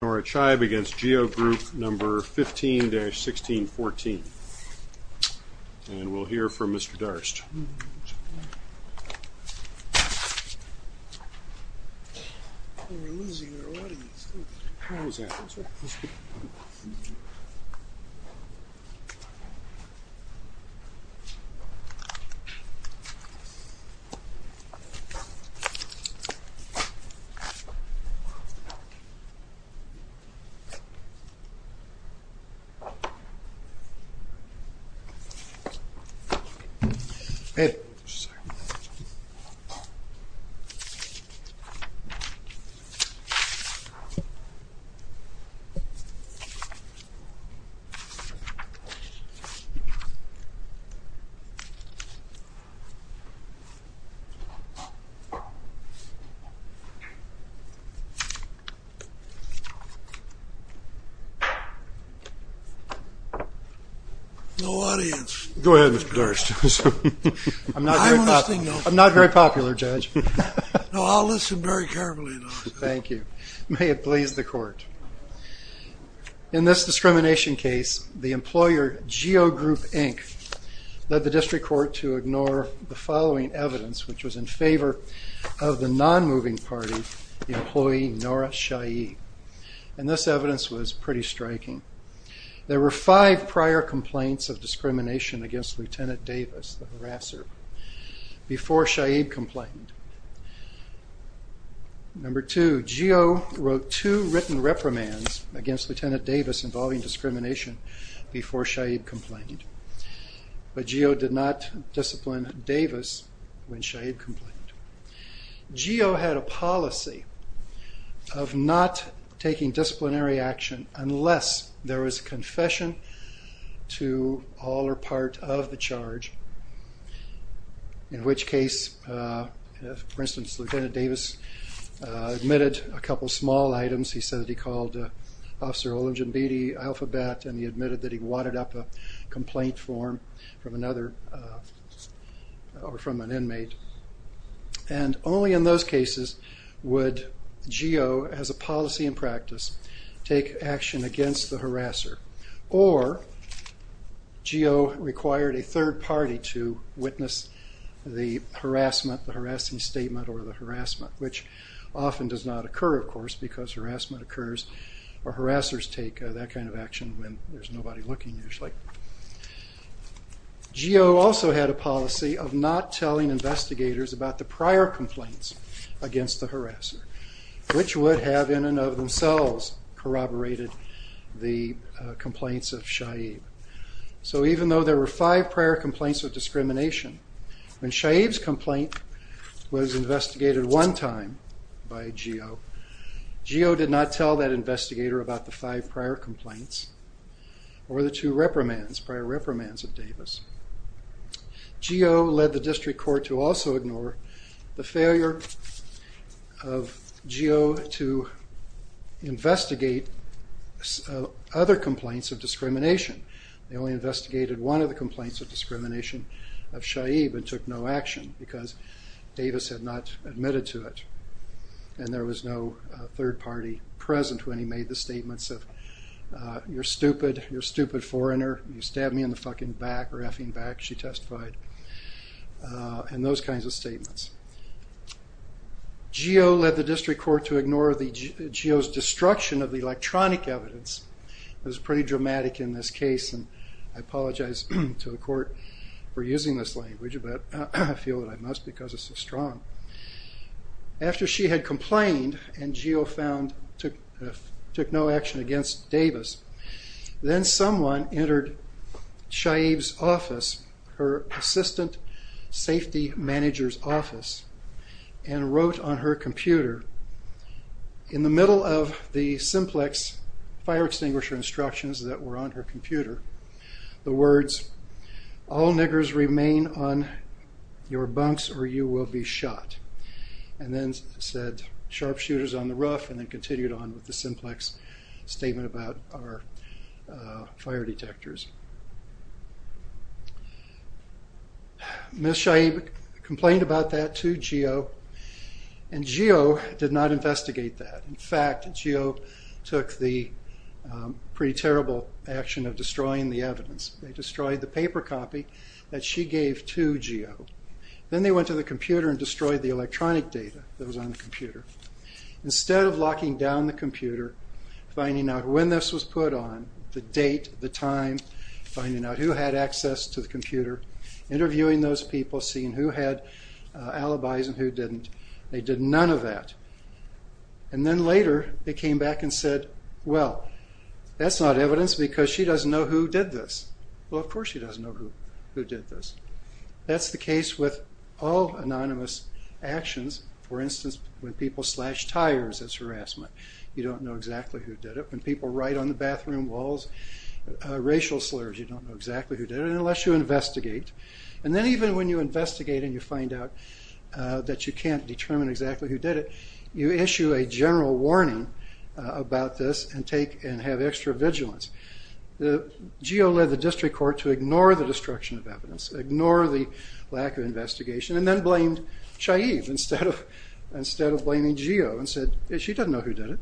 Nora Chaib against Geo Group number 15-1614. And we'll hear from Mr. Darst. No audience. Go ahead, Mr. Darst. I'm not very popular, Judge. No, I'll listen very carefully. Thank you. May it please the court. In this discrimination case, the employer, Geo Group, Inc., led the district court to ignore the following evidence, which was in favor of the non-moving party, the employee, Nora Chaib. And this evidence was pretty striking. There were five prior complaints of discrimination against Lt. Davis, the harasser, before Chaib complained. Number two, Geo wrote two written reprimands against Lt. Davis involving discrimination before Chaib complained, but Geo did not discipline Davis when Chaib complained. Geo had a policy of not taking disciplinary action unless there was confession to all or part of the charge, in which case, for instance, Lt. Davis admitted a couple small items. He said that he called Officer Olemjambedi, Alphabet, and he admitted that he wadded up a complaint form from another, or from an inmate. And only in those cases would Geo, as a policy in practice, take action against the harasser, or Geo required a third party to witness the harassment, the harassing statement, or the harassment, which often does not occur, of course, because harassment occurs or harassers take that kind of action when there's nobody looking, usually. Geo also had a policy of not telling investigators about the prior complaints against the harasser, which would have, in and of themselves, corroborated the complaints of Chaib. So even though there were five prior complaints of discrimination, when Chaib's complaint was investigated one time by Geo, Geo did not tell that investigator about the five prior complaints or the two reprimands, prior reprimands of Davis. Geo led the district court to also ignore the failure of Geo to investigate other complaints of discrimination. They only investigated one of the complaints of discrimination of Chaib and took no action because Davis had not admitted to it, and there was no third party present when he made the statements of, you're stupid, you're a stupid foreigner, you stabbed me in the fucking back or effing back, she testified, and those kinds of statements. Geo led the district court to ignore Geo's destruction of the electronic evidence. It was pretty dramatic in this case, and I apologize to the court for using this language, but I feel that I must because it's so strong. After she had complained and Geo took no action against Davis, then someone entered Chaib's office, her assistant safety manager's office, and wrote on her computer, in the middle of the simplex fire extinguisher instructions that were on her computer, the words, all niggers remain on your bunks or you will be shot. And then said, sharpshooters on the rough, and then continued on with the simplex statement about our fire detectors. Ms. Chaib complained about that to Geo, and Geo did not investigate that. In fact, Geo took the pretty terrible action of destroying the evidence. They destroyed the paper copy that she gave to Geo. Then they went to the computer and destroyed the electronic data that was on the computer. Instead of locking down the computer, finding out when this was put on, the date, the time, finding out who had access to the computer, interviewing those people, seeing who had alibis and who didn't, they did none of that. And then later, they came back and said, well, that's not evidence because she doesn't know who did this. Well, of course she doesn't know who did this. That's the case with all anonymous actions. For instance, when people slash tires, that's harassment. You don't know exactly who did it. When people write on the bathroom walls racial slurs, you don't know exactly who did it, unless you investigate. And then even when you investigate and you find out that you can't determine exactly who did it, you issue a general warning about this and have extra vigilance. Geo led the district court to ignore the destruction of evidence, ignore the lack of investigation, and then blamed Shaiv instead of blaming Geo and said, she doesn't know who did it.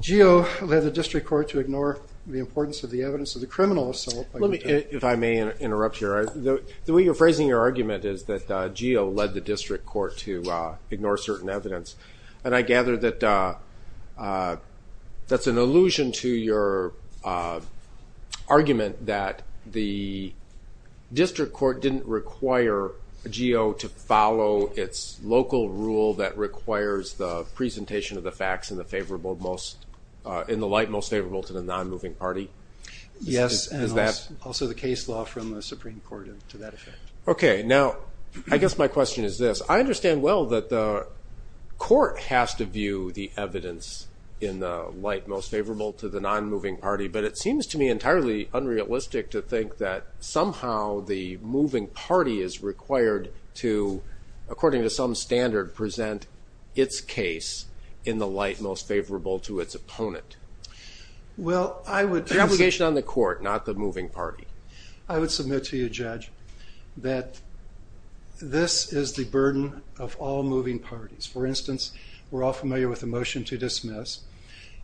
Geo led the district court to ignore the importance of the evidence of the criminal assault. Let me, if I may interrupt here. The way you're phrasing your argument is that Geo led the district court to ignore certain evidence. And I gather that that's an allusion to your argument that the district court didn't require Geo to follow its local rule that requires the presentation of the facts in the light most favorable to the nonmoving party. Yes, and also the case law from the Supreme Court to that effect. Okay. Now, I guess my question is this. I understand well that the court has to view the evidence in the light most favorable to the nonmoving party, but it seems to me entirely unrealistic to think that somehow the moving party is required to, according to some standard, present its case in the light most favorable to its opponent. Well, I would... The obligation on the court, not the moving party. I would submit to you, Judge, that this is the burden of all moving parties. For instance, we're all familiar with the motion to dismiss,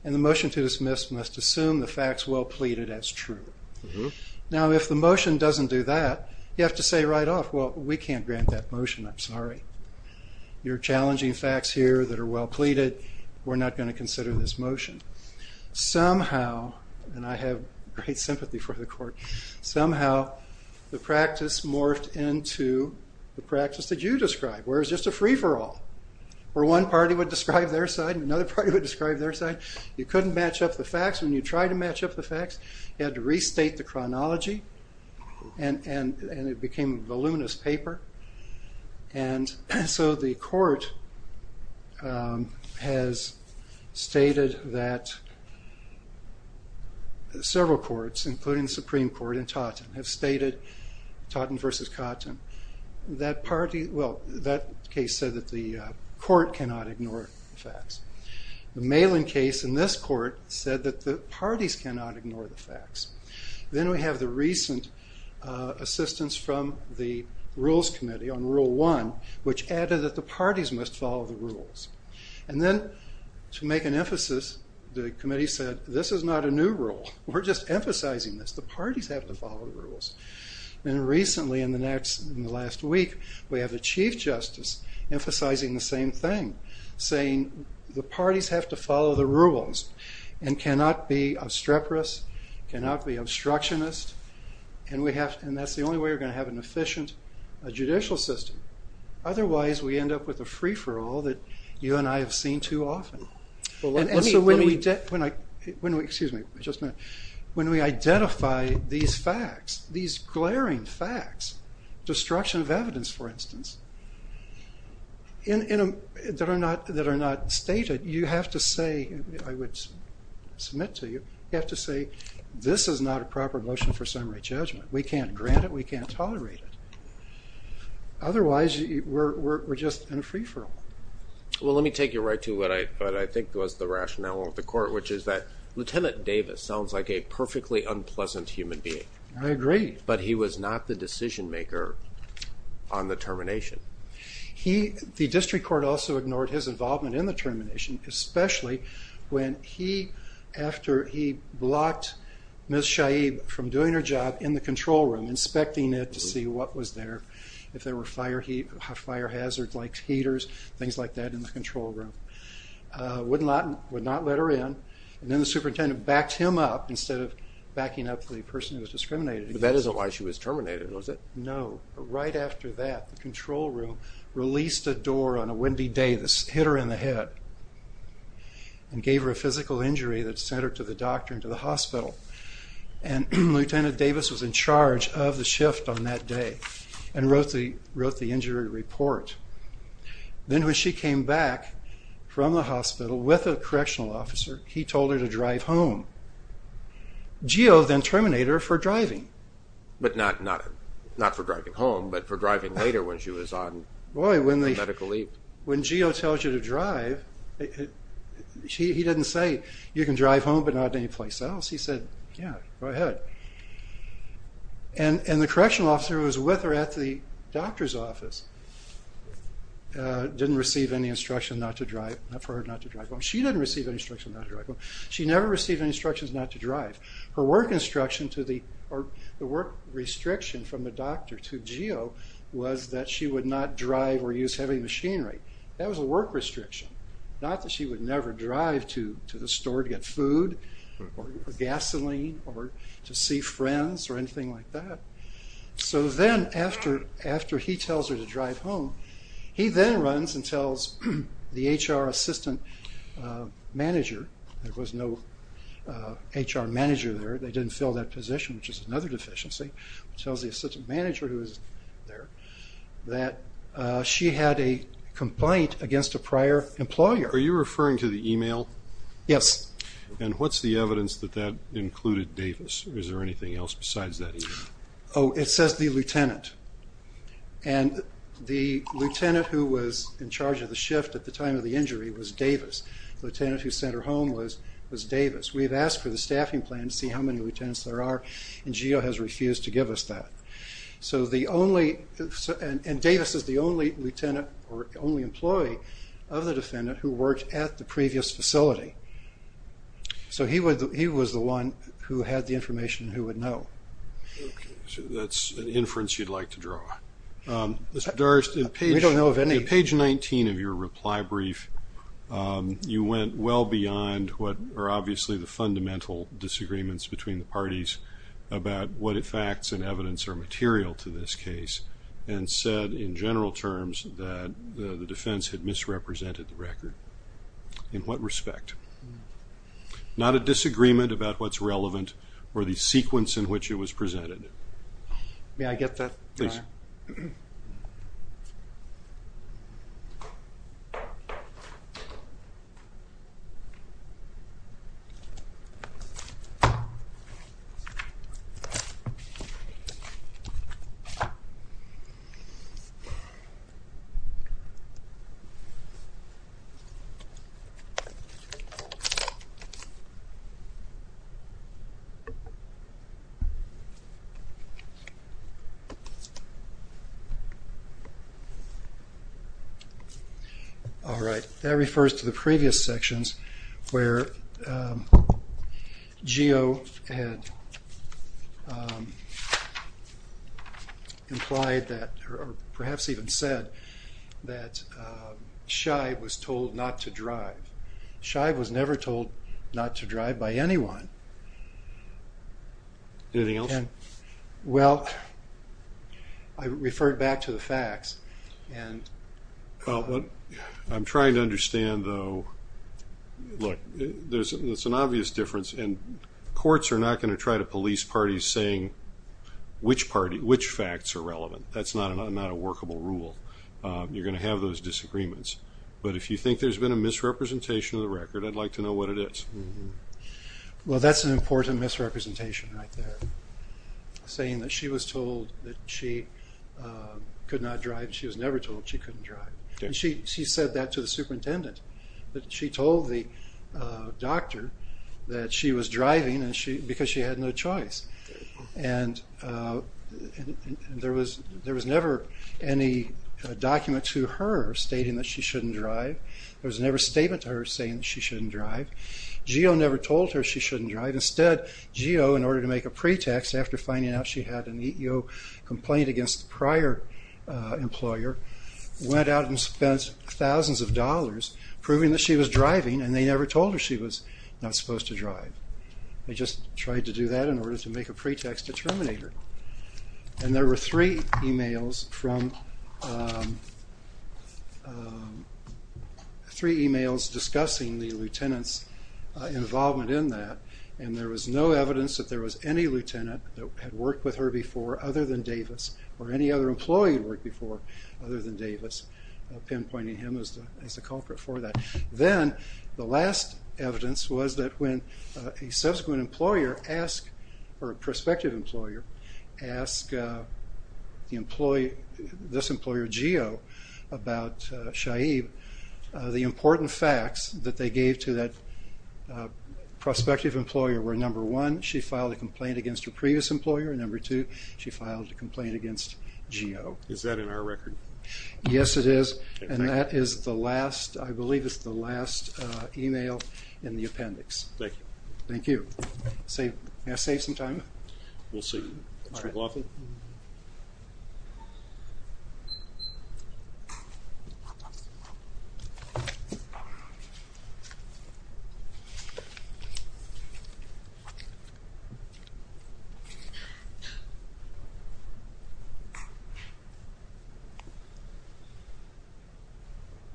and the motion to dismiss must assume the facts well pleaded as true. Now, if the motion doesn't do that, you have to say right off, well, we can't grant that motion. I'm sorry. You're challenging facts here that are well pleaded. We're not going to consider this motion. Somehow, and I have great sympathy for the court, somehow the practice morphed into the practice that you described, where it was just a free-for-all, where one party would describe their side and another party would describe their side. You couldn't match up the facts. When you tried to match up the facts, you had to restate the chronology, and it became a voluminous paper. The court has stated that several courts, including the Supreme Court and Totten, have stated, Totten versus Cotton, that case said that the court cannot ignore the facts. The Malin case in this court said that the parties cannot ignore the facts. Then we have the recent assistance from the Rules Committee on Rule 1, which added that the parties must follow the rules. Then, to make an emphasis, the committee said, this is not a new rule. We're just emphasizing this. The parties have to follow the rules. Recently, in the last week, we have the Chief Justice emphasizing the same thing, saying the parties have to follow the rules and cannot be obstreperous, cannot be obstructionist, and that's the only way we're going to have an efficient judicial system. Otherwise, we end up with a free-for-all that you and I have seen too often. When we identify these facts, these glaring facts, destruction of evidence, for instance, that are not stated, you have to say, I would submit to you, you have to say, this is not a proper motion for summary judgment. We can't grant it. We can't tolerate it. Otherwise, we're just in a free-for-all. Well, let me take you right to what I think was the rationale of the court, which is that Lieutenant Davis sounds like a perfectly unpleasant human being. I agree. But he was not the decision-maker on the termination. The district court also ignored his involvement in the termination, especially after he blocked Ms. Shaib from doing her job in the control room, inspecting it to see what was there, if there were fire hazard-like heaters, things like that in the control room. Would not let her in. And then the superintendent backed him up instead of backing up the person who was discriminated against. But that isn't why she was terminated, was it? No. Right after that, the control room released a door on a windy day that hit her in the head and gave her a physical injury that sent her to the doctor and to the hospital. And Lieutenant Davis was in charge of the shift on that day and wrote the injury report. Then when she came back from the hospital with a correctional officer, he told her to drive home. Geo then terminated her for driving. But not for driving home, but for driving later when she was on medical leave. Boy, when Geo tells you to drive, he didn't say, you can drive home but not anyplace else. He said, yeah, go ahead. And the correctional officer who was with her at the doctor's office didn't receive any instruction not to drive, not for her not to drive home. She didn't receive any instruction not to drive home. She never received any instructions not to drive. Her work instruction to the, or the work restriction from the doctor to Geo was that she would not drive or use heavy machinery. That was a work restriction. Not that she would never drive to the store to get food or gasoline or to see friends or anything like that. So then after he tells her to drive home, he then runs and tells the HR assistant manager. There was no HR manager there. They didn't fill that position, which is another deficiency. He tells the assistant manager who was there that she had a complaint against a prior employer. Are you referring to the email? Yes. And what's the evidence that that included Davis? Is there anything else besides that email? Oh, it says the lieutenant. And the lieutenant who was in charge of the shift at the time of the injury was Davis. The lieutenant who sent her home was Davis. We've asked for the staffing plan to see how many lieutenants there are, and Geo has refused to give us that. And Davis is the only lieutenant or only employee of the defendant who worked at the previous facility. So he was the one who had the information and who would know. So that's an inference you'd like to draw. We don't know of any. On page 19 of your reply brief, you went well beyond what are obviously the fundamental disagreements between the parties about what facts and evidence are material to this case and said in general terms that the defense had misrepresented the record. In what respect? Not a disagreement about what's relevant or the sequence in which it was presented. May I get that? Please. All right. That refers to the previous sections where Geo had implied that, or perhaps even said that Shive was told not to drive. Shive was never told not to drive by anyone. Anything else? Well, I referred back to the facts. Well, what I'm trying to understand, though, look, there's an obvious difference, and courts are not going to try to police parties saying which facts are relevant. That's not a workable rule. You're going to have those disagreements. But if you think there's been a misrepresentation of the record, I'd like to know what it is. Well, that's an important misrepresentation right there, saying that she was told that she could not drive. She was never told she couldn't drive. She said that to the superintendent. She told the doctor that she was driving because she had no choice. And there was never any document to her stating that she shouldn't drive. There was never a statement to her saying that she shouldn't drive. Geo never told her she shouldn't drive. Instead, Geo, in order to make a pretext, after finding out she had an EEO complaint against the prior employer, went out and spent thousands of dollars proving that she was driving, and they never told her she was not supposed to drive. They just tried to do that in order to make a pretext to terminate her. And there were three emails discussing the lieutenant's involvement in that, and there was no evidence that there was any lieutenant that had worked with her before other than Davis, or any other employee who had worked before other than Davis, pinpointing him as the culprit for that. Then the last evidence was that when a subsequent employer asked, or a prospective employer asked this employer, Geo, about Shaib, the important facts that they gave to that prospective employer were, number one, she filed a complaint against her previous employer, and number two, she filed a complaint against Geo. Is that in our record? Yes, it is. And that is the last, I believe it's the last email in the appendix. Thank you. Thank you. May I save some time? We'll see. All right.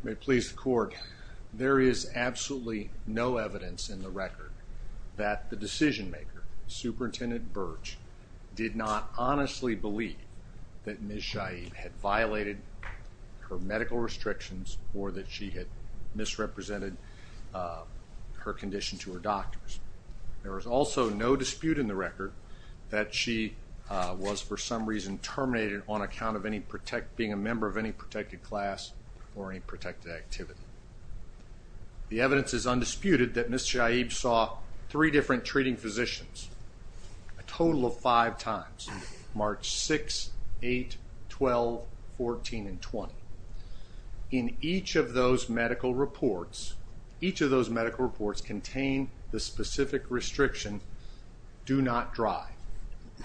May it please the court, there is absolutely no evidence in the record that the decision-maker, Superintendent Birch, did not honestly believe that Ms. Shaib had violated her medical restrictions or that she had misrepresented her condition to her doctors. There is also no dispute in the record that she was, for some reason, terminated on account of being a member of any protected class or any protected activity. The evidence is undisputed that Ms. Shaib saw three different treating physicians a total of five times, March 6th, 8th, 12th, 14th, and 20th. In each of those medical reports, each of those medical reports contained the specific restriction, do not drive,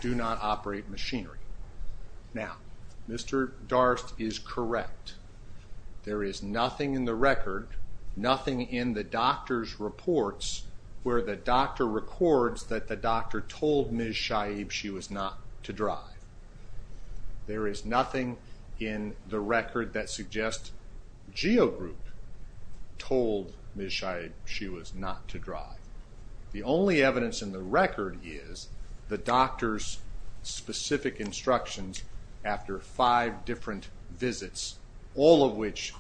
do not operate machinery. Now, Mr. Darst is correct. There is nothing in the record, nothing in the doctor's reports where the doctor records that the doctor told Ms. Shaib she was not to drive. There is nothing in the record that suggests GEO Group told Ms. Shaib she was not to drive. The only evidence in the record is the doctor's specific instructions after five different visits, all of which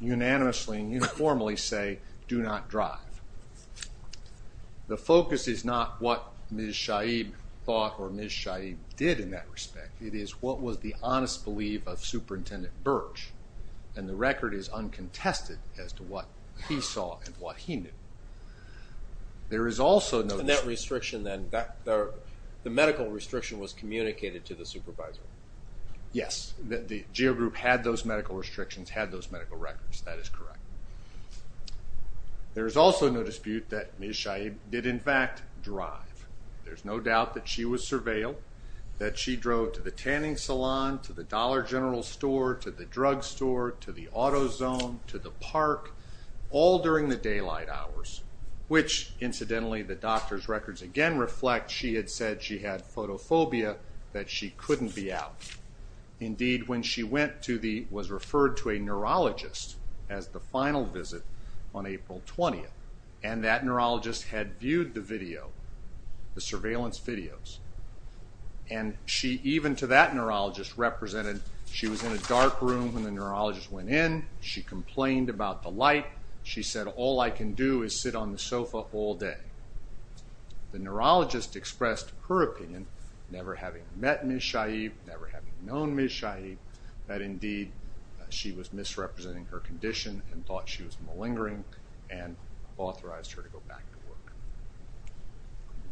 unanimously and uniformly say do not drive. The focus is not what Ms. Shaib thought or Ms. Shaib did in that respect. It is what was the honest belief of Superintendent Birch, and the record is uncontested as to what he saw and what he knew. There is also no- And that restriction then, the medical restriction was communicated to the supervisor. Yes, GEO Group had those medical restrictions, had those medical records. That is correct. There is also no dispute that Ms. Shaib did, in fact, drive. There's no doubt that she was surveilled, that she drove to the tanning salon, to the Dollar General store, to the drug store, to the auto zone, to the park, all during the daylight hours, which, incidentally, the doctor's records again reflect she had said she had photophobia, that she couldn't be out. Indeed, when she went to the- was referred to a neurologist as the final visit on April 20th, and that neurologist had viewed the video, the surveillance videos, and she even to that neurologist represented she was in a dark room when the neurologist went in, she complained about the light, she said, all I can do is sit on the sofa all day. The neurologist expressed her opinion, never having met Ms. Shaib, never having known Ms. Shaib, that indeed she was misrepresenting her condition and thought she was malingering, and authorized her to go back to work.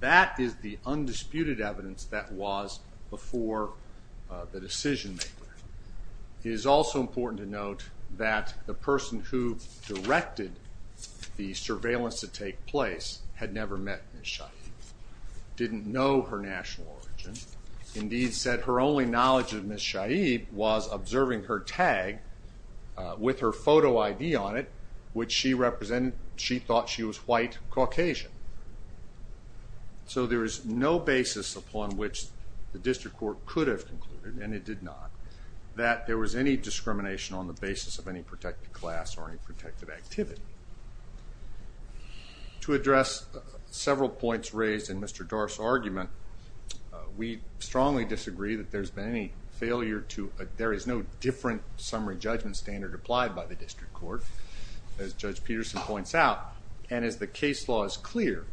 That is the undisputed evidence that was before the decision-maker. It is also important to note that the person who directed the surveillance to take place had never met Ms. Shaib, didn't know her national origin, indeed said her only knowledge of Ms. Shaib was observing her tag with her photo ID on it, which she thought she was white Caucasian. So there is no basis upon which the district court could have concluded, and it did not, that there was any discrimination on the basis of any protected class or any protected activity. To address several points raised in Mr. Dorff's argument, we strongly disagree that there has been any failure to, there is no different summary judgment standard applied by the district court, as Judge Peterson points out, and as the case law is clear,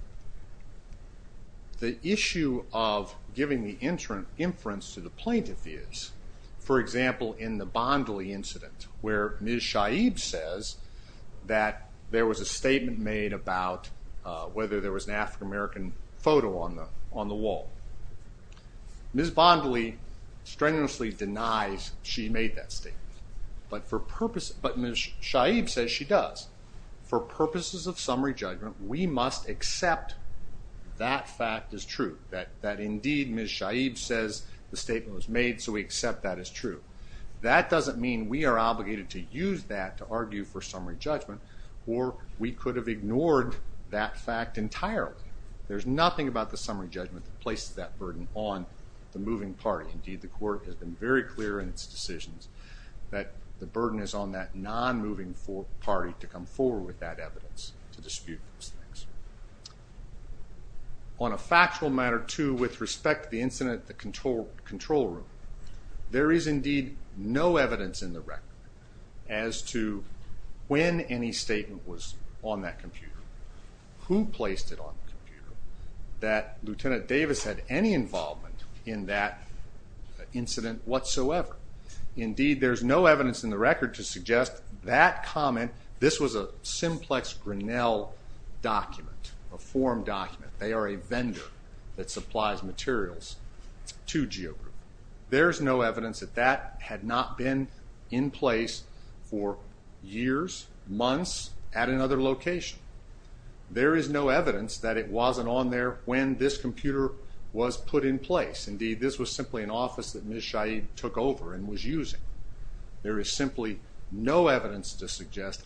the issue of giving the inference to the plaintiff is, for example, in the Bondly incident, where Ms. Shaib says that there was a statement made about whether there was an African-American photo on the wall. Ms. Bondly strenuously denies she made that statement, but Ms. Shaib says she does. For purposes of summary judgment, we must accept that fact as true, that indeed Ms. Shaib says the statement was made, so we accept that as true. That doesn't mean we are obligated to use that to argue for summary judgment, or we could have ignored that fact entirely. There's nothing about the summary judgment that places that burden on the moving party. Indeed, the court has been very clear in its decisions that the burden is on that non-moving party to come forward with that evidence to dispute those things. On a factual matter, too, with respect to the incident at the control room, there is indeed no evidence in the record as to when any statement was on that computer, who placed it on the computer, that Lieutenant Davis had any involvement in that incident whatsoever. Indeed, there is no evidence in the record to suggest that comment, this was a Simplex Grinnell document, a form document. They are a vendor that supplies materials to GeoGroup. There is no evidence that that had not been in place for years, months, at another location. There is no evidence that it wasn't on there when this computer was put in place. Indeed, this was simply an office that Ms. Shaheed took over and was using. There is simply no evidence to suggest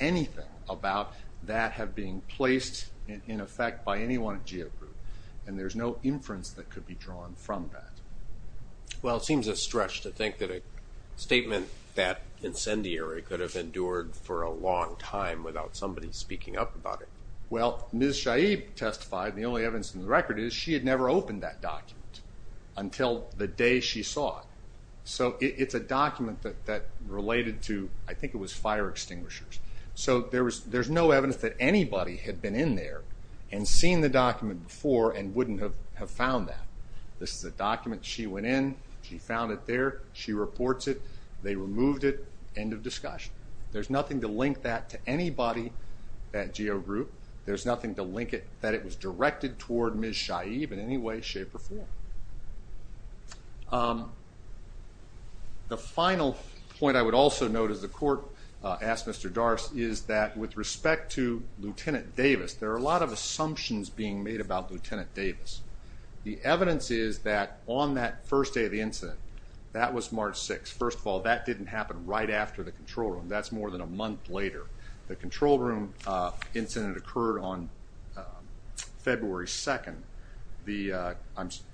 anything about that having been placed in effect by anyone at GeoGroup, and there's no inference that could be drawn from that. Well, it seems a stretch to think that a statement that incendiary could have endured for a long time without somebody speaking up about it. Well, Ms. Shaheed testified, and the only evidence in the record is that she had never opened that document until the day she saw it. So it's a document that related to, I think it was fire extinguishers. So there's no evidence that anybody had been in there and seen the document before and wouldn't have found that. This is a document, she went in, she found it there, she reports it, they removed it, end of discussion. There's nothing to link that to anybody at GeoGroup. There's nothing to link it that it was directed toward Ms. Shaheed in any way, shape, or form. The final point I would also note, as the court asked Mr. Darst, is that with respect to Lt. Davis, there are a lot of assumptions being made about Lt. Davis. The evidence is that on that first day of the incident, that was March 6th. First of all, that didn't happen right after the control room. That's more than a month later. The control room incident occurred on February 2nd.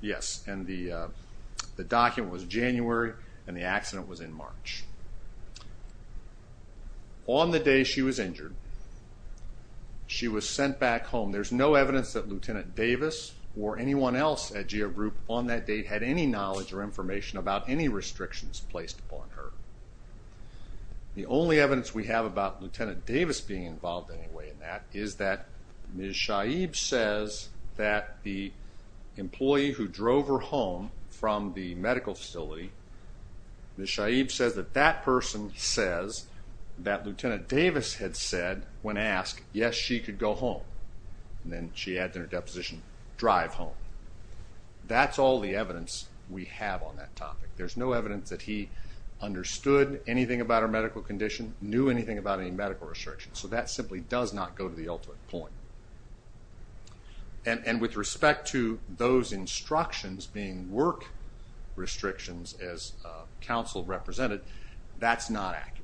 Yes, and the document was January and the accident was in March. On the day she was injured, she was sent back home. There's no evidence that Lt. Davis or anyone else at GeoGroup on that date had any knowledge or information about any restrictions placed upon her. The only evidence we have about Lt. Davis being involved in any way in that is that Ms. Shaheed says that the employee who drove her home from the medical facility, Ms. Shaheed says that that person says that Lt. Davis had said, when asked, yes, she could go home. Then she adds in her deposition, drive home. That's all the evidence we have on that topic. There's no evidence that he understood anything about her medical condition, knew anything about any medical restrictions, so that simply does not go to the ultimate point. With respect to those instructions being work restrictions, as counsel represented, that's not accurate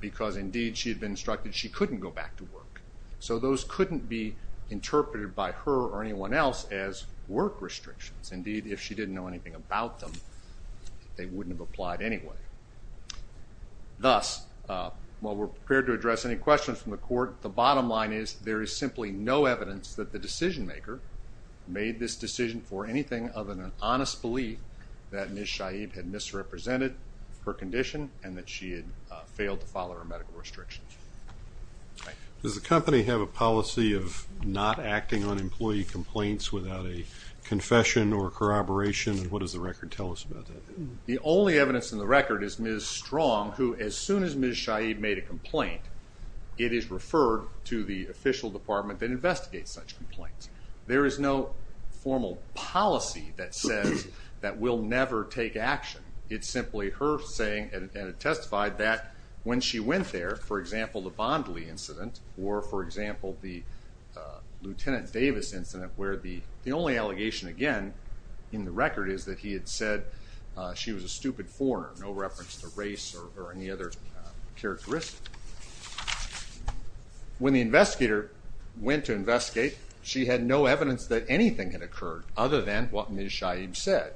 because, indeed, she had been instructed she couldn't go back to work. Those couldn't be interpreted by her or anyone else as work restrictions. Indeed, if she didn't know anything about them, they wouldn't have applied anyway. Thus, while we're prepared to address any questions from the court, the bottom line is there is simply no evidence that the decision-maker made this decision for anything other than an honest belief that Ms. Shaheed had misrepresented her condition and that she had failed to follow her medical restrictions. Does the company have a policy of not acting on employee complaints without a confession or corroboration, and what does the record tell us about that? The only evidence in the record is Ms. Strong, who, as soon as Ms. Shaheed made a complaint, it is referred to the official department that investigates such complaints. There is no formal policy that says that we'll never take action. It's simply her saying and it testified that when she went there, for example, the Bondly incident or, for example, the Lieutenant Davis incident where the only allegation, again, in the record is that he had said she was a stupid foreigner, no reference to race or any other characteristic. When the investigator went to investigate, she had no evidence that anything had occurred other than what Ms. Shaheed said.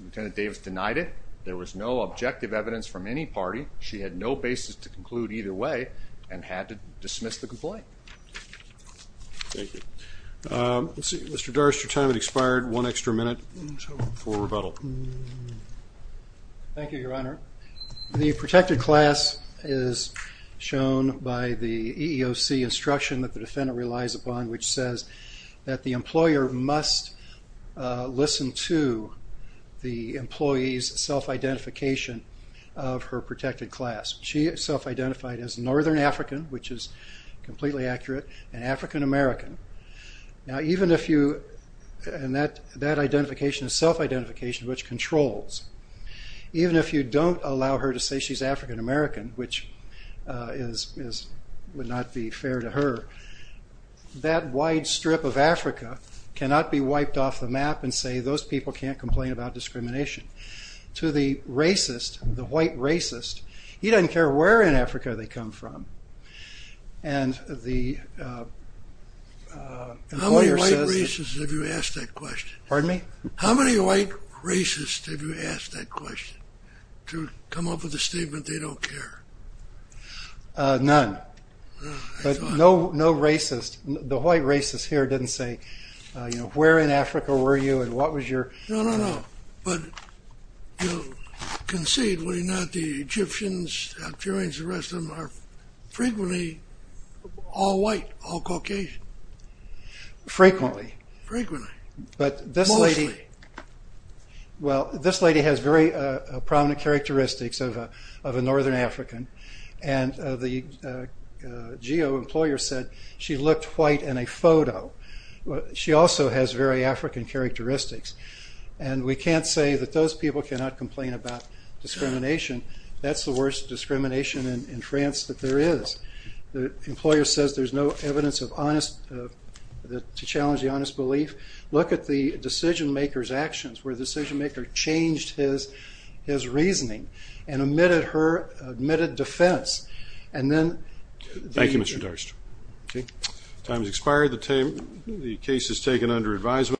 Lieutenant Davis denied it. There was no objective evidence from any party. She had no basis to conclude either way and had to dismiss the complaint. Thank you. Mr. Doris, your time has expired. One extra minute for rebuttal. Thank you, Your Honor. The protected class is shown by the EEOC instruction that the defendant relies upon, which says that the employer must listen to the employee's self-identification of her protected class. She is self-identified as Northern African, which is completely accurate, and African American. That identification is self-identification, which controls. Even if you don't allow her to say she's African American, which would not be fair to her, that wide strip of Africa cannot be wiped off the map and say those people can't complain about discrimination. To the racist, the white racist, he doesn't care where in Africa they come from. How many white racists have you asked that question? Pardon me? How many white racists have you asked that question to come up with a statement they don't care? None, but no racist. The white racist here didn't say, you know, where in Africa were you and what was your… No, no, no, but conceivably not. The Egyptians, the Africans, the rest of them are frequently all white, all Caucasian. Frequently? Frequently. But this lady… Mostly. Well, this lady has very prominent characteristics of a Northern African, and the GEO employer said she looked white in a photo. She also has very African characteristics, and we can't say that those people cannot complain about discrimination. That's the worst discrimination in France that there is. The employer says there's no evidence of honest – to challenge the honest belief. Look at the decision maker's actions where the decision maker changed his reasoning and omitted her – omitted defense, and then… Thank you, Mr. Darst. Okay. Time has expired. The case is taken under advisement.